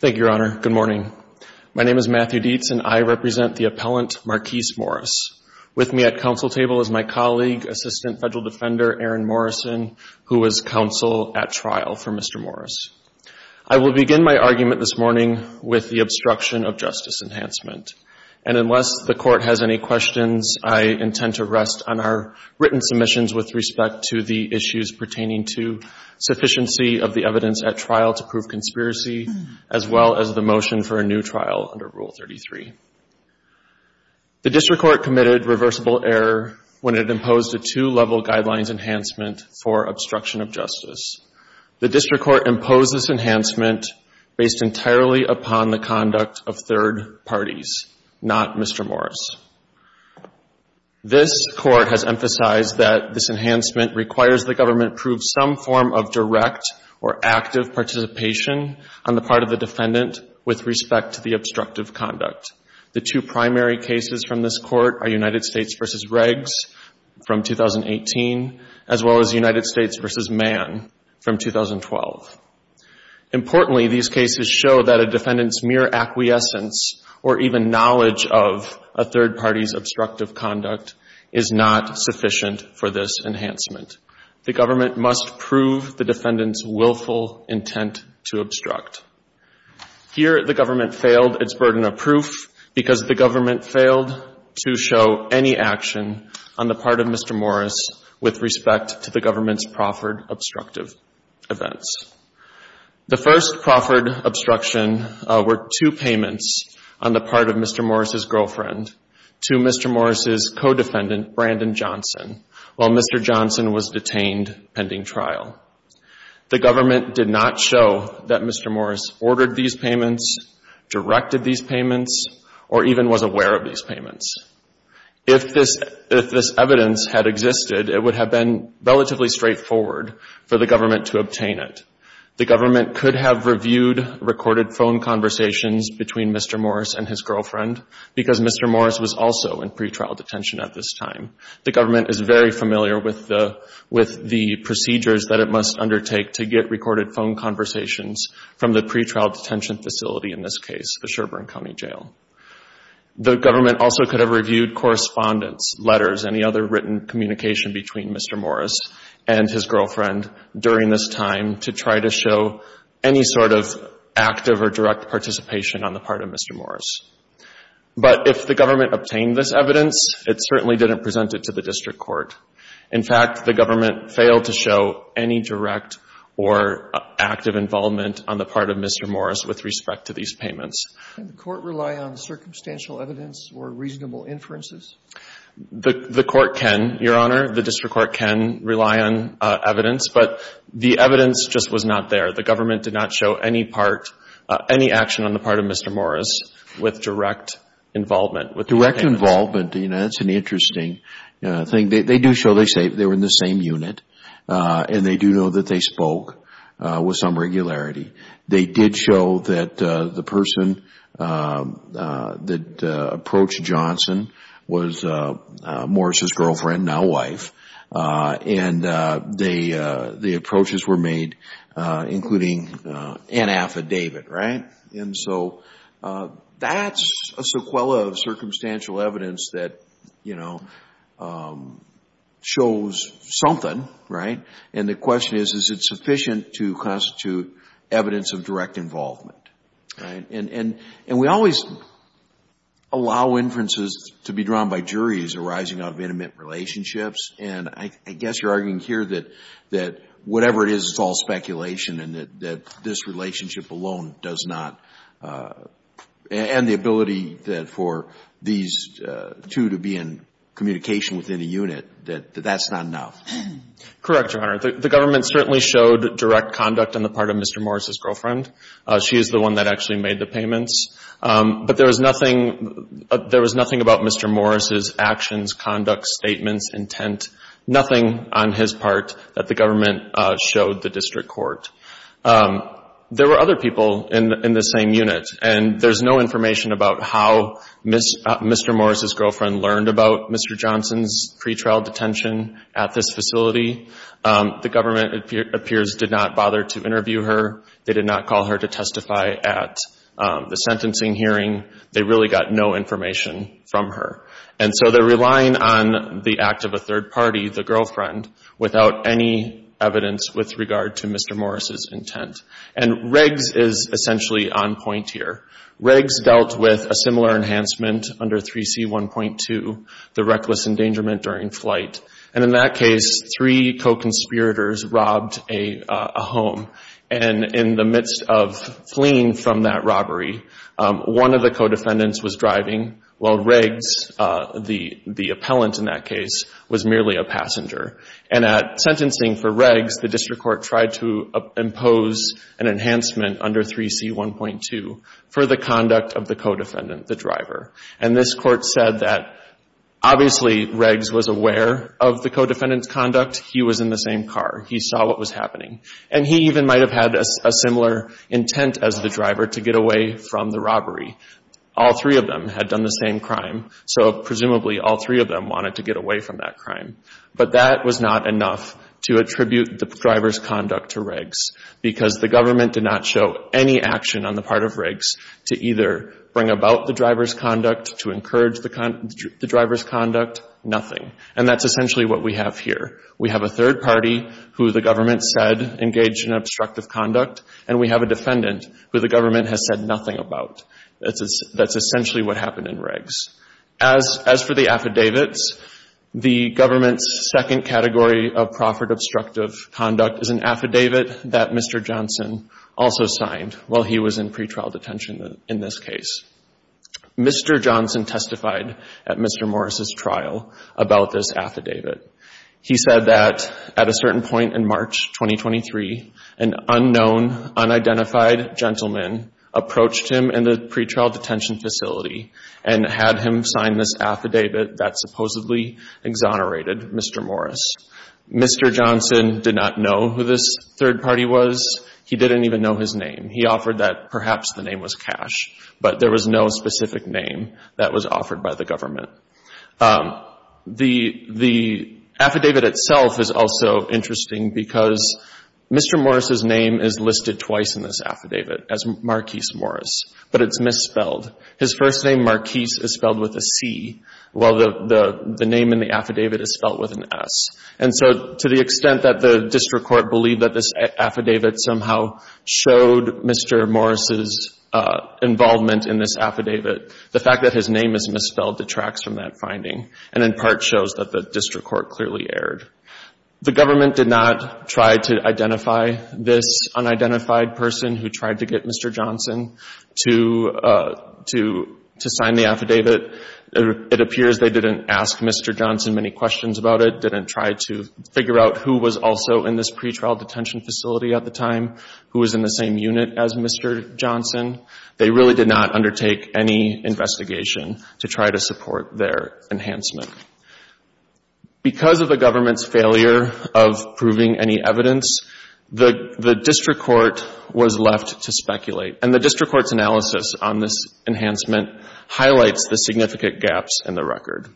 Thank you, Your Honor. Good morning. My name is Matthew Dietz, and I represent the appellant Marquice Morris. With me at counsel table is my colleague, Assistant Federal Defender Aaron Morrison, who is counsel at trial for Mr. Morris. I will begin my argument this morning with the obstruction of justice enhancement. And to the issues pertaining to sufficiency of the evidence at trial to prove conspiracy, as well as the motion for a new trial under Rule 33. The district court committed reversible error when it imposed a two-level guidelines enhancement for obstruction of justice. The district court imposed this enhancement based entirely upon the conduct of third parties, not Mr. Morris. This court has emphasized that this enhancement requires the government prove some form of direct or active participation on the part of the defendant with respect to the obstructive conduct. The two primary cases from this court are United States v. Regs from 2018, as well as United States v. Mann from 2012. Importantly, these cases show that a defendant's mere acquiescence or even knowledge of a third party's obstructive conduct is not sufficient for this enhancement. The government must prove the defendant's willful intent to obstruct. Here the government failed its burden of proof because the government failed to show any action on the part of Mr. Morris with respect to the government's proffered obstructive events. The first proffered obstruction were two payments on the part of Mr. Morris' girlfriend to Mr. Morris' co-defendant, Brandon Johnson, while Mr. Johnson was detained pending trial. The government did not show that Mr. Morris ordered these payments, directed these payments, or even was aware of these payments. If this evidence had existed, it would have been relatively straightforward for the government to obtain it. The government could have reviewed recorded phone conversations between Mr. Morris and his girlfriend because Mr. Morris was also in pretrial detention at this time. The government is very familiar with the procedures that it must undertake to get recorded phone conversations from the pretrial detention facility, in this case, county jail. The government also could have reviewed correspondence, letters, any other written communication between Mr. Morris and his girlfriend during this time to try to show any sort of active or direct participation on the part of Mr. Morris. But if the government obtained this evidence, it certainly didn't present it to the district court. In fact, the government failed to show any direct or active involvement on the part of Mr. Morris with respect to these payments. Can the court rely on circumstantial evidence or reasonable inferences? The court can, Your Honor. The district court can rely on evidence, but the evidence just was not there. The government did not show any part, any action on the part of Mr. Morris with direct involvement. Direct involvement, you know, that's an interesting thing. They do show they were in the same unit, and they do know that they spoke with some regularity. They did show that the person that approached Johnson was Morris' girlfriend, now wife, and the approaches were made, including an affidavit, right? And so that's a sequela of circumstantial evidence that, you know, shows something, right? And the question is, is it sufficient to constitute evidence of direct involvement, right? And we always allow inferences to be drawn by juries arising out of intimate relationships, and I guess you're arguing here that whatever it is, it's all speculation and that this relationship alone does not, and the ability that for these two to be in communication within a unit, that that's not enough. Correct, Your Honor. The government certainly showed direct conduct on the part of Mr. Morris' girlfriend. She is the one that actually made the payments. But there was nothing about Mr. Morris' actions, conduct, statements, intent, nothing on his part that the government showed the district court. There were other people in the same unit, and there's no information about how Mr. Morris' girlfriend learned about Mr. Johnson's pretrial detention at this facility. The government, it appears, did not bother to interview her. They did not call her to testify at the sentencing hearing. They really got no information from her. And so they're relying on the act of a third party, the girlfriend, without any evidence with regard to Mr. Morris' intent. And Riggs is essentially on point here. Riggs dealt with a similar enhancement under 3C1.2, the reckless endangerment during flight. And in that case, three co-conspirators robbed a home. And in the midst of fleeing from that robbery, one of the co-defendants was driving while Riggs, the appellant in that case, was merely a passenger. And at sentencing for Riggs, the district court tried to impose an enhancement under 3C1.2 for the conduct of the co-defendant, the driver. And this court said that obviously Riggs was aware of the co-defendant's conduct. He was in the same car. He saw what was happening. And he even might have had a similar intent as the driver to get away from the robbery. All three of them had done the same crime, so presumably all three of them wanted to get away from that crime. But that was not enough to attribute the driver's conduct to Riggs because the government did not show any action on the part of Riggs to either bring about the driver's conduct, to encourage the driver's conduct, nothing. And that's essentially what we have here. We have a third party who the government said engaged in obstructive conduct, and we have a defendant who the government has said nothing about. That's essentially what happened in Riggs. As for the affidavits, the government's second category of proffered obstructive conduct is an affidavit that Mr. Johnson also signed while he was in pretrial detention in this case. Mr. Johnson testified at Mr. Morris's trial about this affidavit. He said that at a certain point in March 2023, an unknown, unidentified gentleman approached him in the pretrial detention facility and had him sign this affidavit that supposedly exonerated Mr. Morris. Mr. Johnson did not know who this third party was. He didn't even know his name. He offered that perhaps the name was Cash, but there was no specific name that was offered by the government. The affidavit itself is also interesting because Mr. Morris's name is listed twice in this affidavit as Marquis Morris, but it's misspelled. His first name, Marquis, is spelled with a C, while the name in the affidavit is spelled with an S. And so to the extent that the district court believed that this affidavit somehow showed Mr. Morris's involvement in this affidavit, the fact that his name is misspelled detracts from that finding and in part shows that the district court clearly erred. The government did not try to identify this unidentified person who tried to get Mr. Johnson to sign the affidavit. It appears they didn't ask Mr. Johnson many questions about it, didn't try to figure out who was also in this pretrial detention facility at the time, who was in the same unit as Mr. Johnson. They really did not undertake any investigation to try to support their enhancement. Because of the government's failure of proving any evidence, the district court was left to speculate, and the district court's analysis on this enhancement highlights the significant gaps in the record.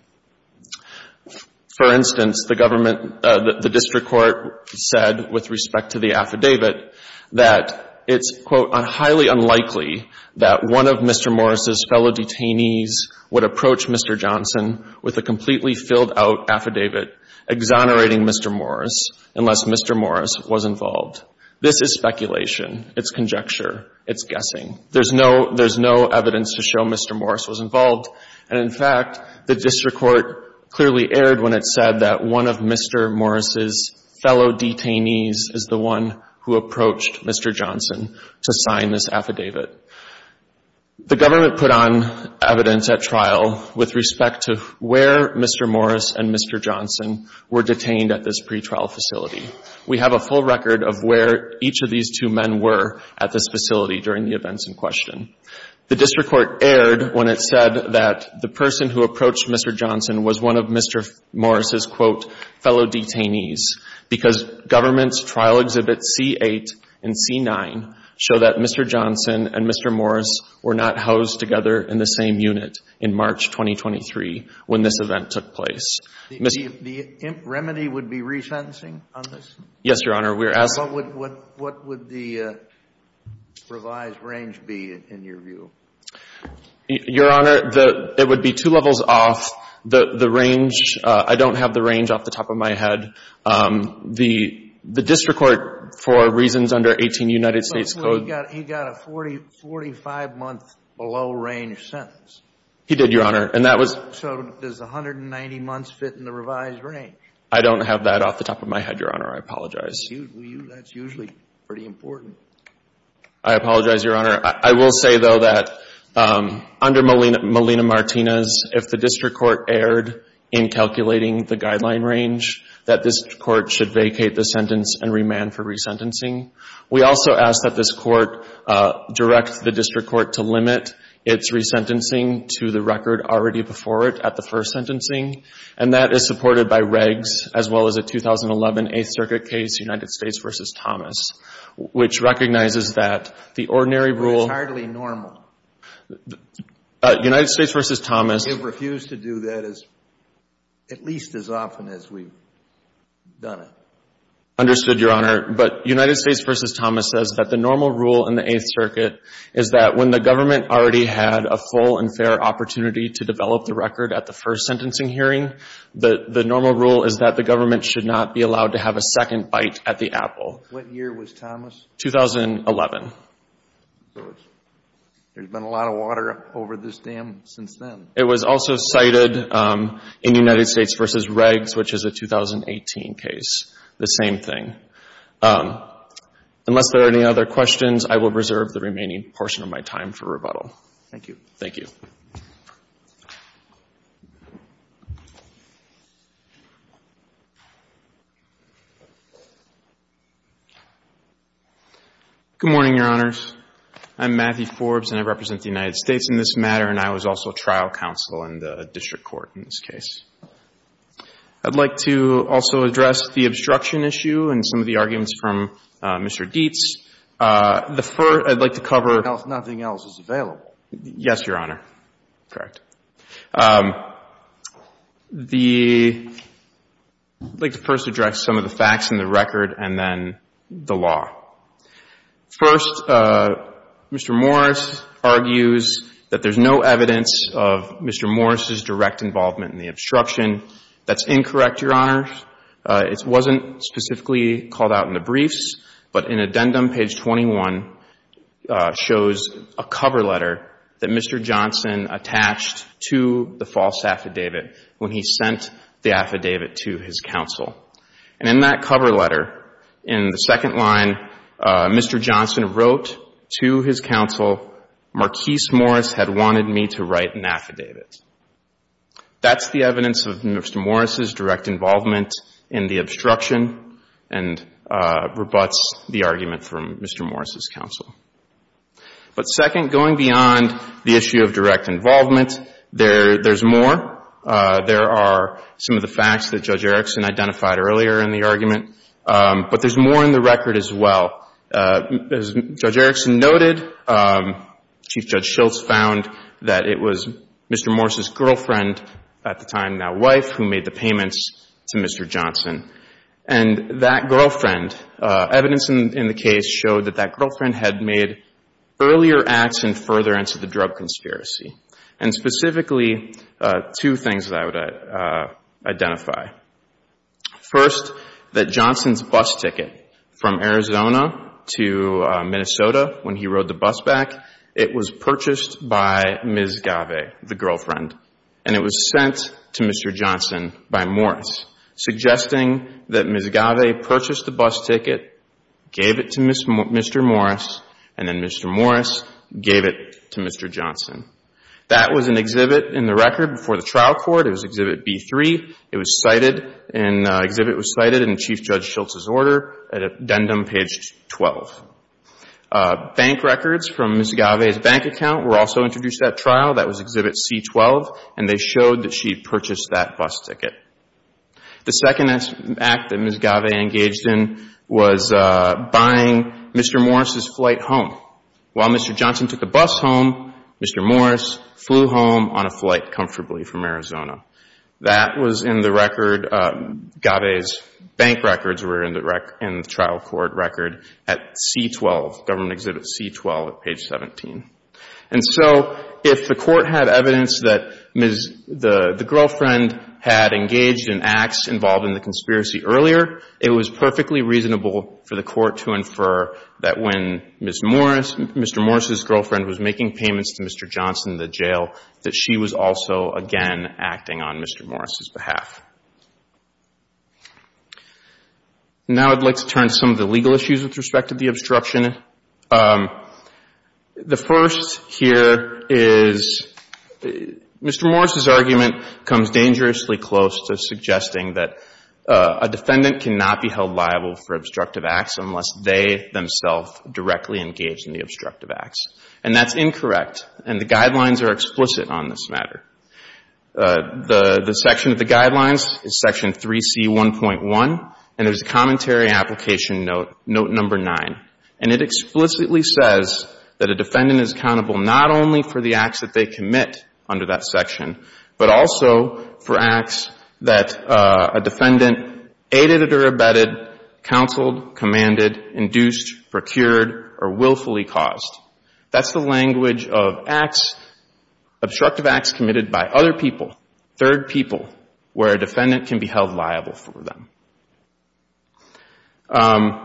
For instance, the district court said with respect to the affidavit that it's, quote, highly unlikely that one of Mr. Morris's fellow detainees would approach Mr. Johnson with a completely filled out affidavit exonerating Mr. Morris unless Mr. Morris was involved. This is speculation. It's conjecture. It's guessing. There's no evidence to show Mr. Morris was involved. And in fact, the district court clearly erred when it said that one of Mr. Morris's fellow detainees is the one who approached Mr. Johnson to sign this affidavit. The government put on evidence at trial with respect to where Mr. Morris and Mr. Johnson were detained at this pretrial facility. We have a full record of where each of these two men were at this facility during the events in question. The person who approached Mr. Johnson was one of Mr. Morris's, quote, fellow detainees because government's trial exhibits C-8 and C-9 show that Mr. Johnson and Mr. Morris were not housed together in the same unit in March 2023 when this event took place. The remedy would be resentencing on this? Yes, Your Honor. We're asking What would the revised range be in your view? Your Honor, it would be two levels off. The range, I don't have the range off the top of my head. The district court, for reasons under 18 United States Code He got a 45-month below range sentence. He did, Your Honor. And that was So does 190 months fit in the revised range? I don't have that off the top of my head, Your Honor. I apologize. That's usually pretty important. I apologize, Your Honor. I will say, though, that under Molina-Martinez, if the district court erred in calculating the guideline range, that this court should vacate the sentence and remand for resentencing. We also ask that this court direct the district court to limit its resentencing to the record already before it the first sentencing. And that is supported by regs, as well as a 2011 Eighth Circuit case, United States v. Thomas, which recognizes that the ordinary rule It's hardly normal. United States v. Thomas They've refused to do that at least as often as we've done it. Understood, Your Honor. But United States v. Thomas says that the normal rule in the Eighth Circuit is that when the government already had a full and fair opportunity to develop the record at the first sentencing hearing, the normal rule is that the government should not be allowed to have a second bite at the apple. What year was Thomas? 2011. There's been a lot of water over this dam since then. It was also cited in United States v. Regs, which is a 2018 case. The same thing. Unless there are any other questions, I will reserve the remaining portion of my time for questions. Matthew Forbes Good morning, Your Honors. I'm Matthew Forbes, and I represent the United States in this matter, and I was also trial counsel in the district court in this case. I'd like to also address the obstruction issue and some of the arguments from Mr. Dietz. The first I'd like to cover Nothing else is available. Yes, Your Honor. Correct. The, I'd like to first address some of the facts in the record and then the law. First, Mr. Morris argues that there's no evidence of Mr. Morris's direct involvement in the obstruction. That's incorrect, Your Honor. It wasn't specifically called out in the briefs, but in addendum page 21 shows a cover letter that Mr. Johnson attached to the false affidavit when he sent the affidavit to his counsel. And in that cover letter, in the second line, Mr. Johnson wrote to his counsel, Marquis Morris had wanted me to write an affidavit. That's the evidence of Mr. Morris's direct involvement in the obstruction and rebuts the argument from Mr. Morris's counsel. But second, going beyond the issue of direct involvement, there's more. There are some of the facts that Judge Erickson identified earlier in the argument, but there's more in the record as well. As Judge Erickson noted, Chief Judge Schultz found that it was Mr. Morris's girlfriend, at the time now wife, who made the payments to Mr. Johnson. And that girlfriend, evidence in the case showed that that girlfriend had made earlier acts and further into the drug conspiracy. And specifically, two things that I would identify. First, that Johnson's bus ticket from Arizona to Minnesota when he rode the bus back, it was purchased by Ms. Gave, the girlfriend. And it was sent to Mr. Johnson by Morris, suggesting that Ms. Gave purchased the bus ticket, gave it to Mr. Morris, and then Mr. Morris gave it to Mr. Johnson. That was an exhibit in the record before the trial court. It was Exhibit B3. It was cited in Chief Judge Schultz's order at addendum page 12. Bank records from Ms. Gave's bank account were also introduced at trial. That was Exhibit C12. And they showed that she purchased that bus ticket. The second act that Ms. Gave engaged in was buying Mr. Morris's flight home. While Mr. Johnson took the bus home, Mr. Morris flew home on a flight comfortably from Arizona. That was in the record. Gave's bank records were in the trial court record at C12, Government Exhibit C12 at page 17. And so if the court had evidence that the girlfriend had engaged in acts involved in the conspiracy earlier, it was perfectly reasonable for the court to infer that when Mr. Morris's girlfriend was making payments to Mr. Johnson in the jail, that she was also, again, acting on Mr. Morris's behalf. Now I'd like to turn to some of the legal issues with respect to the obstruction. The first here is Mr. Morris's argument comes dangerously close to suggesting that a defendant cannot be held liable for obstructive acts unless they themselves directly engage in the obstructive acts. And that's incorrect. And the guidelines are explicit on this matter. The section of the guidelines is section 3C1.1. And there's a commentary application note, note number 9. And it explicitly says that a defendant is accountable not only for the acts that they commit under that section, but also for acts that a defendant aided or abetted, counseled, commanded, induced, procured, or willfully caused. That's the language of acts, obstructive acts committed by other people, third people, where a defendant can be held liable for them. And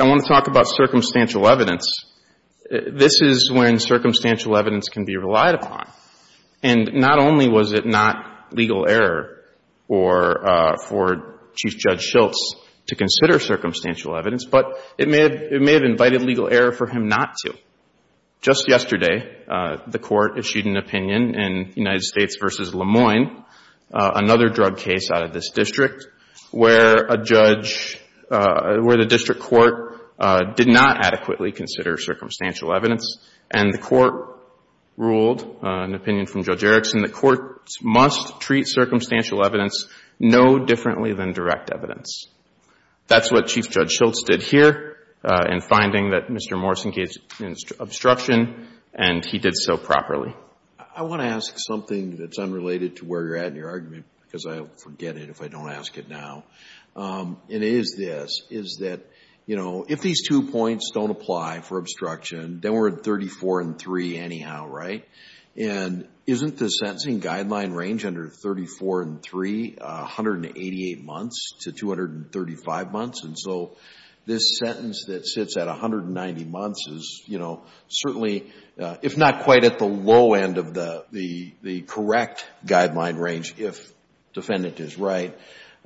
I want to talk about circumstantial evidence. This is when circumstantial evidence can be relied upon. And not only was it not legal error for Chief Judge Schiltz to consider circumstantial evidence, but it may have invited legal error for him not to. Just yesterday, the Court issued an opinion in United States v. Le Moyne, another drug case out of this district, where a judge, where the district court did not adequately consider circumstantial evidence, and the Court ruled, an opinion from Judge Erickson, the Court must treat circumstantial evidence no differently than direct evidence. That's what Chief Judge Schiltz did here in finding that Mr. Morris engaged in obstruction, and he did so properly. I want to ask something that's unrelated to where you're at in your argument, because I forget it if I don't ask it now. And it is this, is that, you know, if these two points don't apply for obstruction, then we're at 34 and 3 anyhow, right? And isn't the sentencing guideline range under 34 and 3, 188 months to 235 months? And so this sentence that sits at 190 months is, you know, certainly, if not quite at the low end of the correct guideline range, if defendant is right,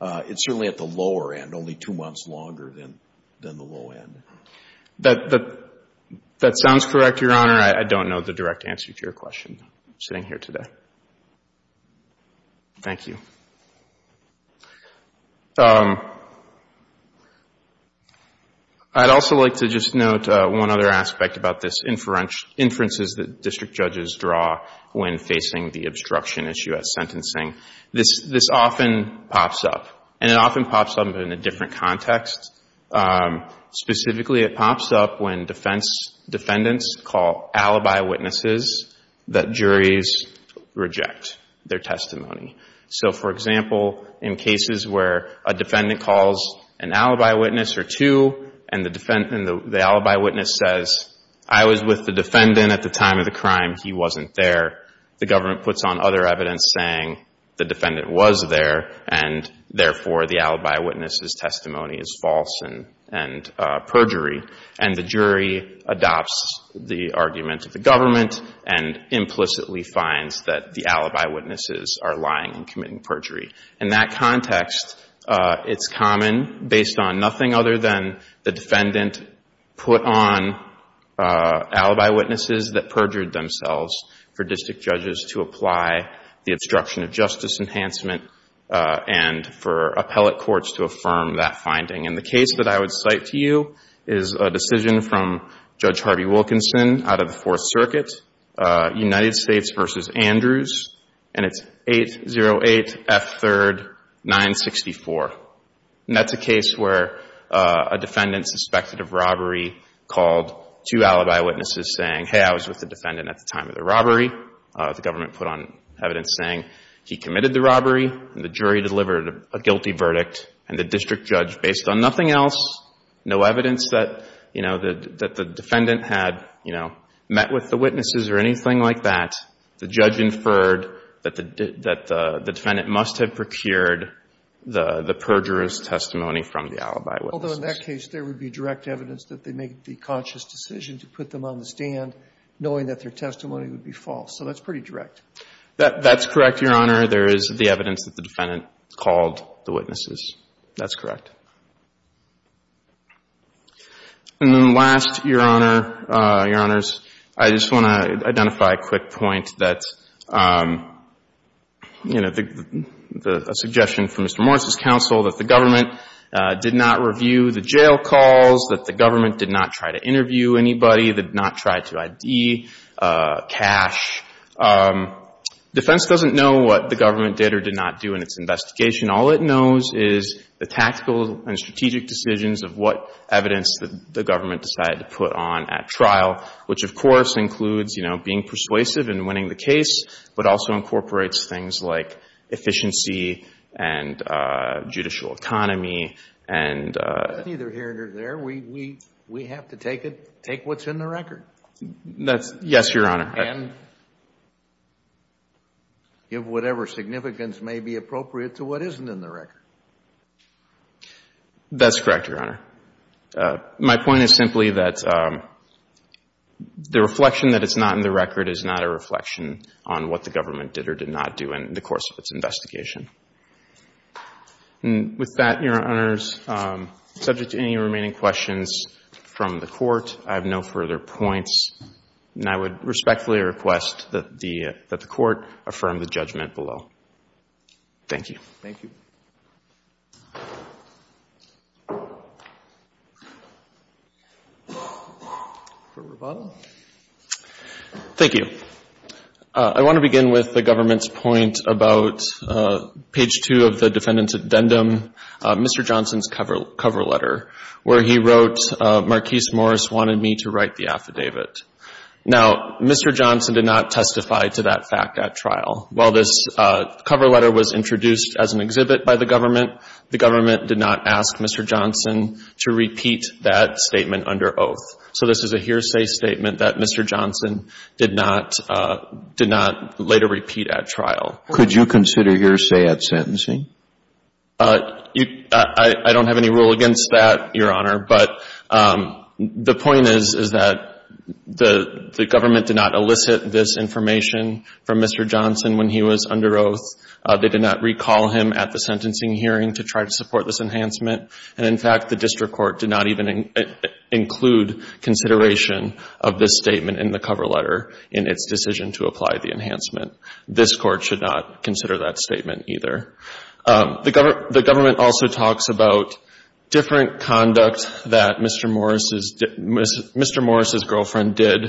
it's certainly at the longer than the low end. That sounds correct, Your Honor. I don't know the direct answer to your question, sitting here today. Thank you. I'd also like to just note one other aspect about this inferences that district judges draw when facing the obstruction issue at sentencing. This often pops up, and it often pops up in a different context. Specifically, it pops up when defendants call alibi witnesses that juries reject their testimony. So, for example, in cases where a defendant calls an alibi witness or two, and the alibi witness says, I was with the defendant at the time of the crime, he wasn't there, the government puts on other evidence saying the defendant was there, and therefore, the alibi witness's testimony is false and perjury, and the jury adopts the argument of the government and implicitly finds that the alibi witnesses are lying and committing perjury. In that context, it's common, based on nothing other than the defendant put on alibi witnesses that perjured themselves for district judges to apply the obstruction of justice enhancement and for appellate courts to affirm that finding. And the case that I would cite to you is a decision from Judge Harvey Wilkinson out of the Fourth Circuit, United States v. Andrews, and it's 808 F. 3rd. 964. And that's a case where a defendant suspected of robbery called two alibi witnesses saying, hey, I was with the evidence saying he committed the robbery, and the jury delivered a guilty verdict, and the district judge, based on nothing else, no evidence that, you know, that the defendant had, you know, met with the witnesses or anything like that, the judge inferred that the defendant must have procured the perjurer's testimony from the alibi witnesses. Although in that case, there would be direct evidence that they made the conscious decision to put them on the stand knowing that their testimony would be false. So that's pretty direct. That's correct, Your Honor. There is the evidence that the defendant called the witnesses. That's correct. And then last, Your Honor, Your Honors, I just want to identify a quick point that, you know, the suggestion from Mr. Morris's counsel that the government did not review the jail calls, that the government did not try to interview anybody, did not try to ID cash. Defense doesn't know what the government did or did not do in its investigation. All it knows is the tactical and strategic decisions of what evidence that the government decided to put on at trial, which, of course, includes, you know, being persuasive and winning the case, but also incorporates things like efficiency and judicial economy and... It's neither here nor there. We have to take what's in the record. That's... Yes, Your Honor. And give whatever significance may be appropriate to what isn't in the record. That's correct, Your Honor. My point is simply that the reflection that it's not in the record is not a reflection on what the government did or did not do in the course of its investigation. And with that, Your Honors, subject to any remaining questions from the points, and I would respectfully request that the Court affirm the judgment below. Thank you. Thank you. Thank you. I want to begin with the government's point about page two of the defendant's addendum, Mr. Johnson's cover letter, where he wrote, Marquis Morris wanted me to write the affidavit. Now, Mr. Johnson did not testify to that fact at trial. While this cover letter was introduced as an exhibit by the government, the government did not ask Mr. Johnson to repeat that statement under oath. So this is a hearsay statement that Mr. Johnson did not later repeat at trial. Could you consider hearsay at sentencing? I don't have any rule against that, Your Honor. But the point is, is that the government did not elicit this information from Mr. Johnson when he was under oath. They did not recall him at the sentencing hearing to try to support this enhancement. And, in fact, the district court did not even include consideration of this statement in the cover letter in its decision to apply the enhancement. This Court should not consider that statement. The government also talks about different conduct that Mr. Morris' girlfriend did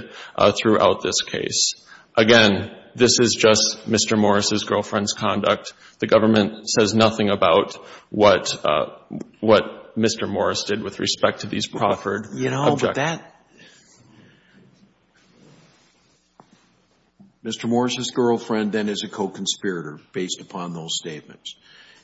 throughout this case. Again, this is just Mr. Morris' girlfriend's conduct. The government says nothing about what Mr. Morris did with respect to these proffered objects. You know, but that – Mr. Morris' girlfriend, then, is a co-conspirator based upon those statements.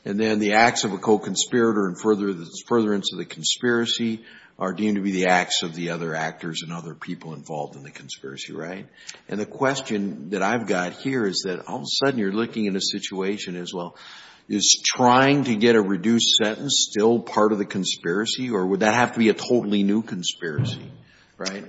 And then the acts of a co-conspirator and furtherance of the conspiracy are deemed to be the acts of the other actors and other people involved in the conspiracy, right? And the question that I've got here is that all of a sudden you're looking at a situation as well. Is trying to get a reduced sentence still part of the conspiracy, or would that have to be a totally new conspiracy, right?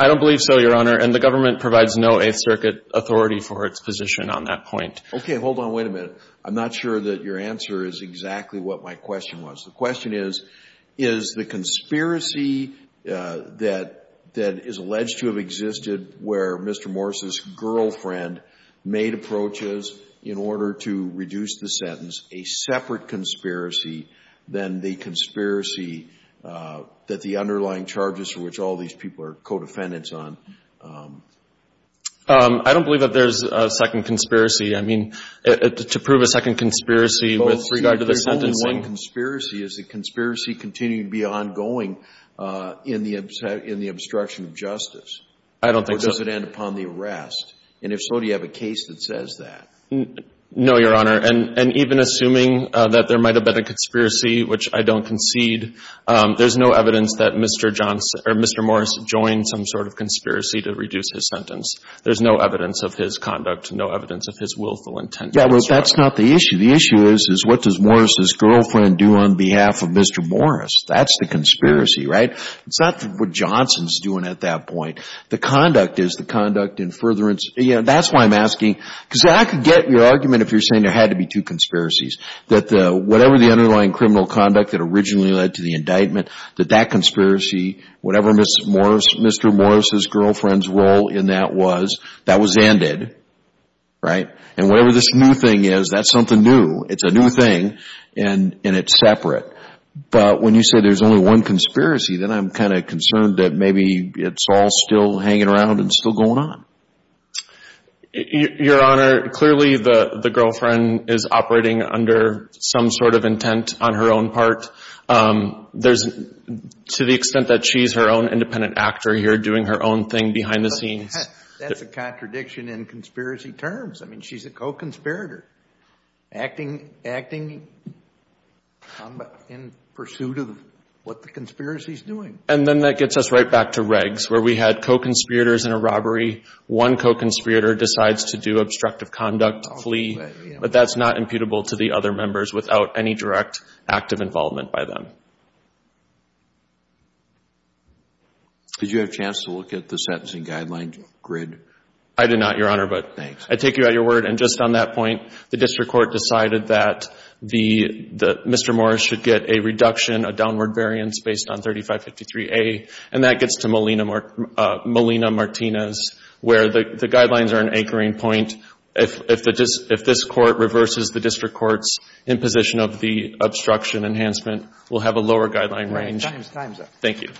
I don't believe so, Your Honor. And the government provides no Eighth Circuit authority for its position on that point. Okay. Hold on. Wait a minute. I'm not sure that your answer is exactly what my question was. The question is, is the conspiracy that is alleged to have existed where Mr. Morris' girlfriend made approaches in order to reduce the sentence a separate conspiracy than the conspiracy that the underlying charges for which all these people are co-defendants on? I don't believe that there's a second conspiracy. I mean, to prove a second conspiracy with regard to the sentencing. Well, if there's only one conspiracy, is the conspiracy continuing to be ongoing in the obstruction of justice? I don't think so. Or does it end upon the arrest? And if so, do you have a case that says that? No, Your Honor. And even assuming that there might have been a conspiracy, which I don't concede, there's no evidence that Mr. Johnson or Mr. Morris joined some sort of conspiracy to reduce his sentence. There's no evidence of his conduct, no evidence of his willful intent. Yeah, well, that's not the issue. The issue is, is what does Morris' girlfriend do on behalf of Mr. Morris? That's the conspiracy, right? It's not what Johnson's doing at that point. The conduct is the conduct in furtherance. That's why I'm asking, because I could get your argument if you're saying there had to be two conspiracies, that whatever the underlying criminal conduct that originally led to the indictment, that that conspiracy, whatever Mr. Morris' girlfriend's role in that was, that was ended, right? And whatever this new thing is, that's something new. It's a new thing and it's separate. But when you say there's only one conspiracy, then I'm kind of concerned that maybe it's all still hanging around and still going on. Your Honor, clearly the girlfriend is operating under some sort of intent on her own part. There's, to the extent that she's her own independent actor here doing her own thing behind the scenes. That's a contradiction in conspiracy terms. I mean, she's a co-conspirator, acting in pursuit of what the conspiracy's doing. And then that gets us right back to regs, where we had co-conspirators in a robbery. One co-conspirator decides to do obstructive conduct, flee, but that's not imputable to the other members without any direct active involvement by them. Did you have a chance to look at the sentencing guidelines grid? I did not, Your Honor. Thanks. I take you at your word. And just on that point, the district court decided that Mr. Morris should get a reduction, a downward variance based on 3553A. And that gets to Molina-Martinez, where the guidelines are an anchoring point. If this Court reverses the district court's imposition of the obstruction enhancement, we'll have a lower guideline range. Your time's up. Thank you.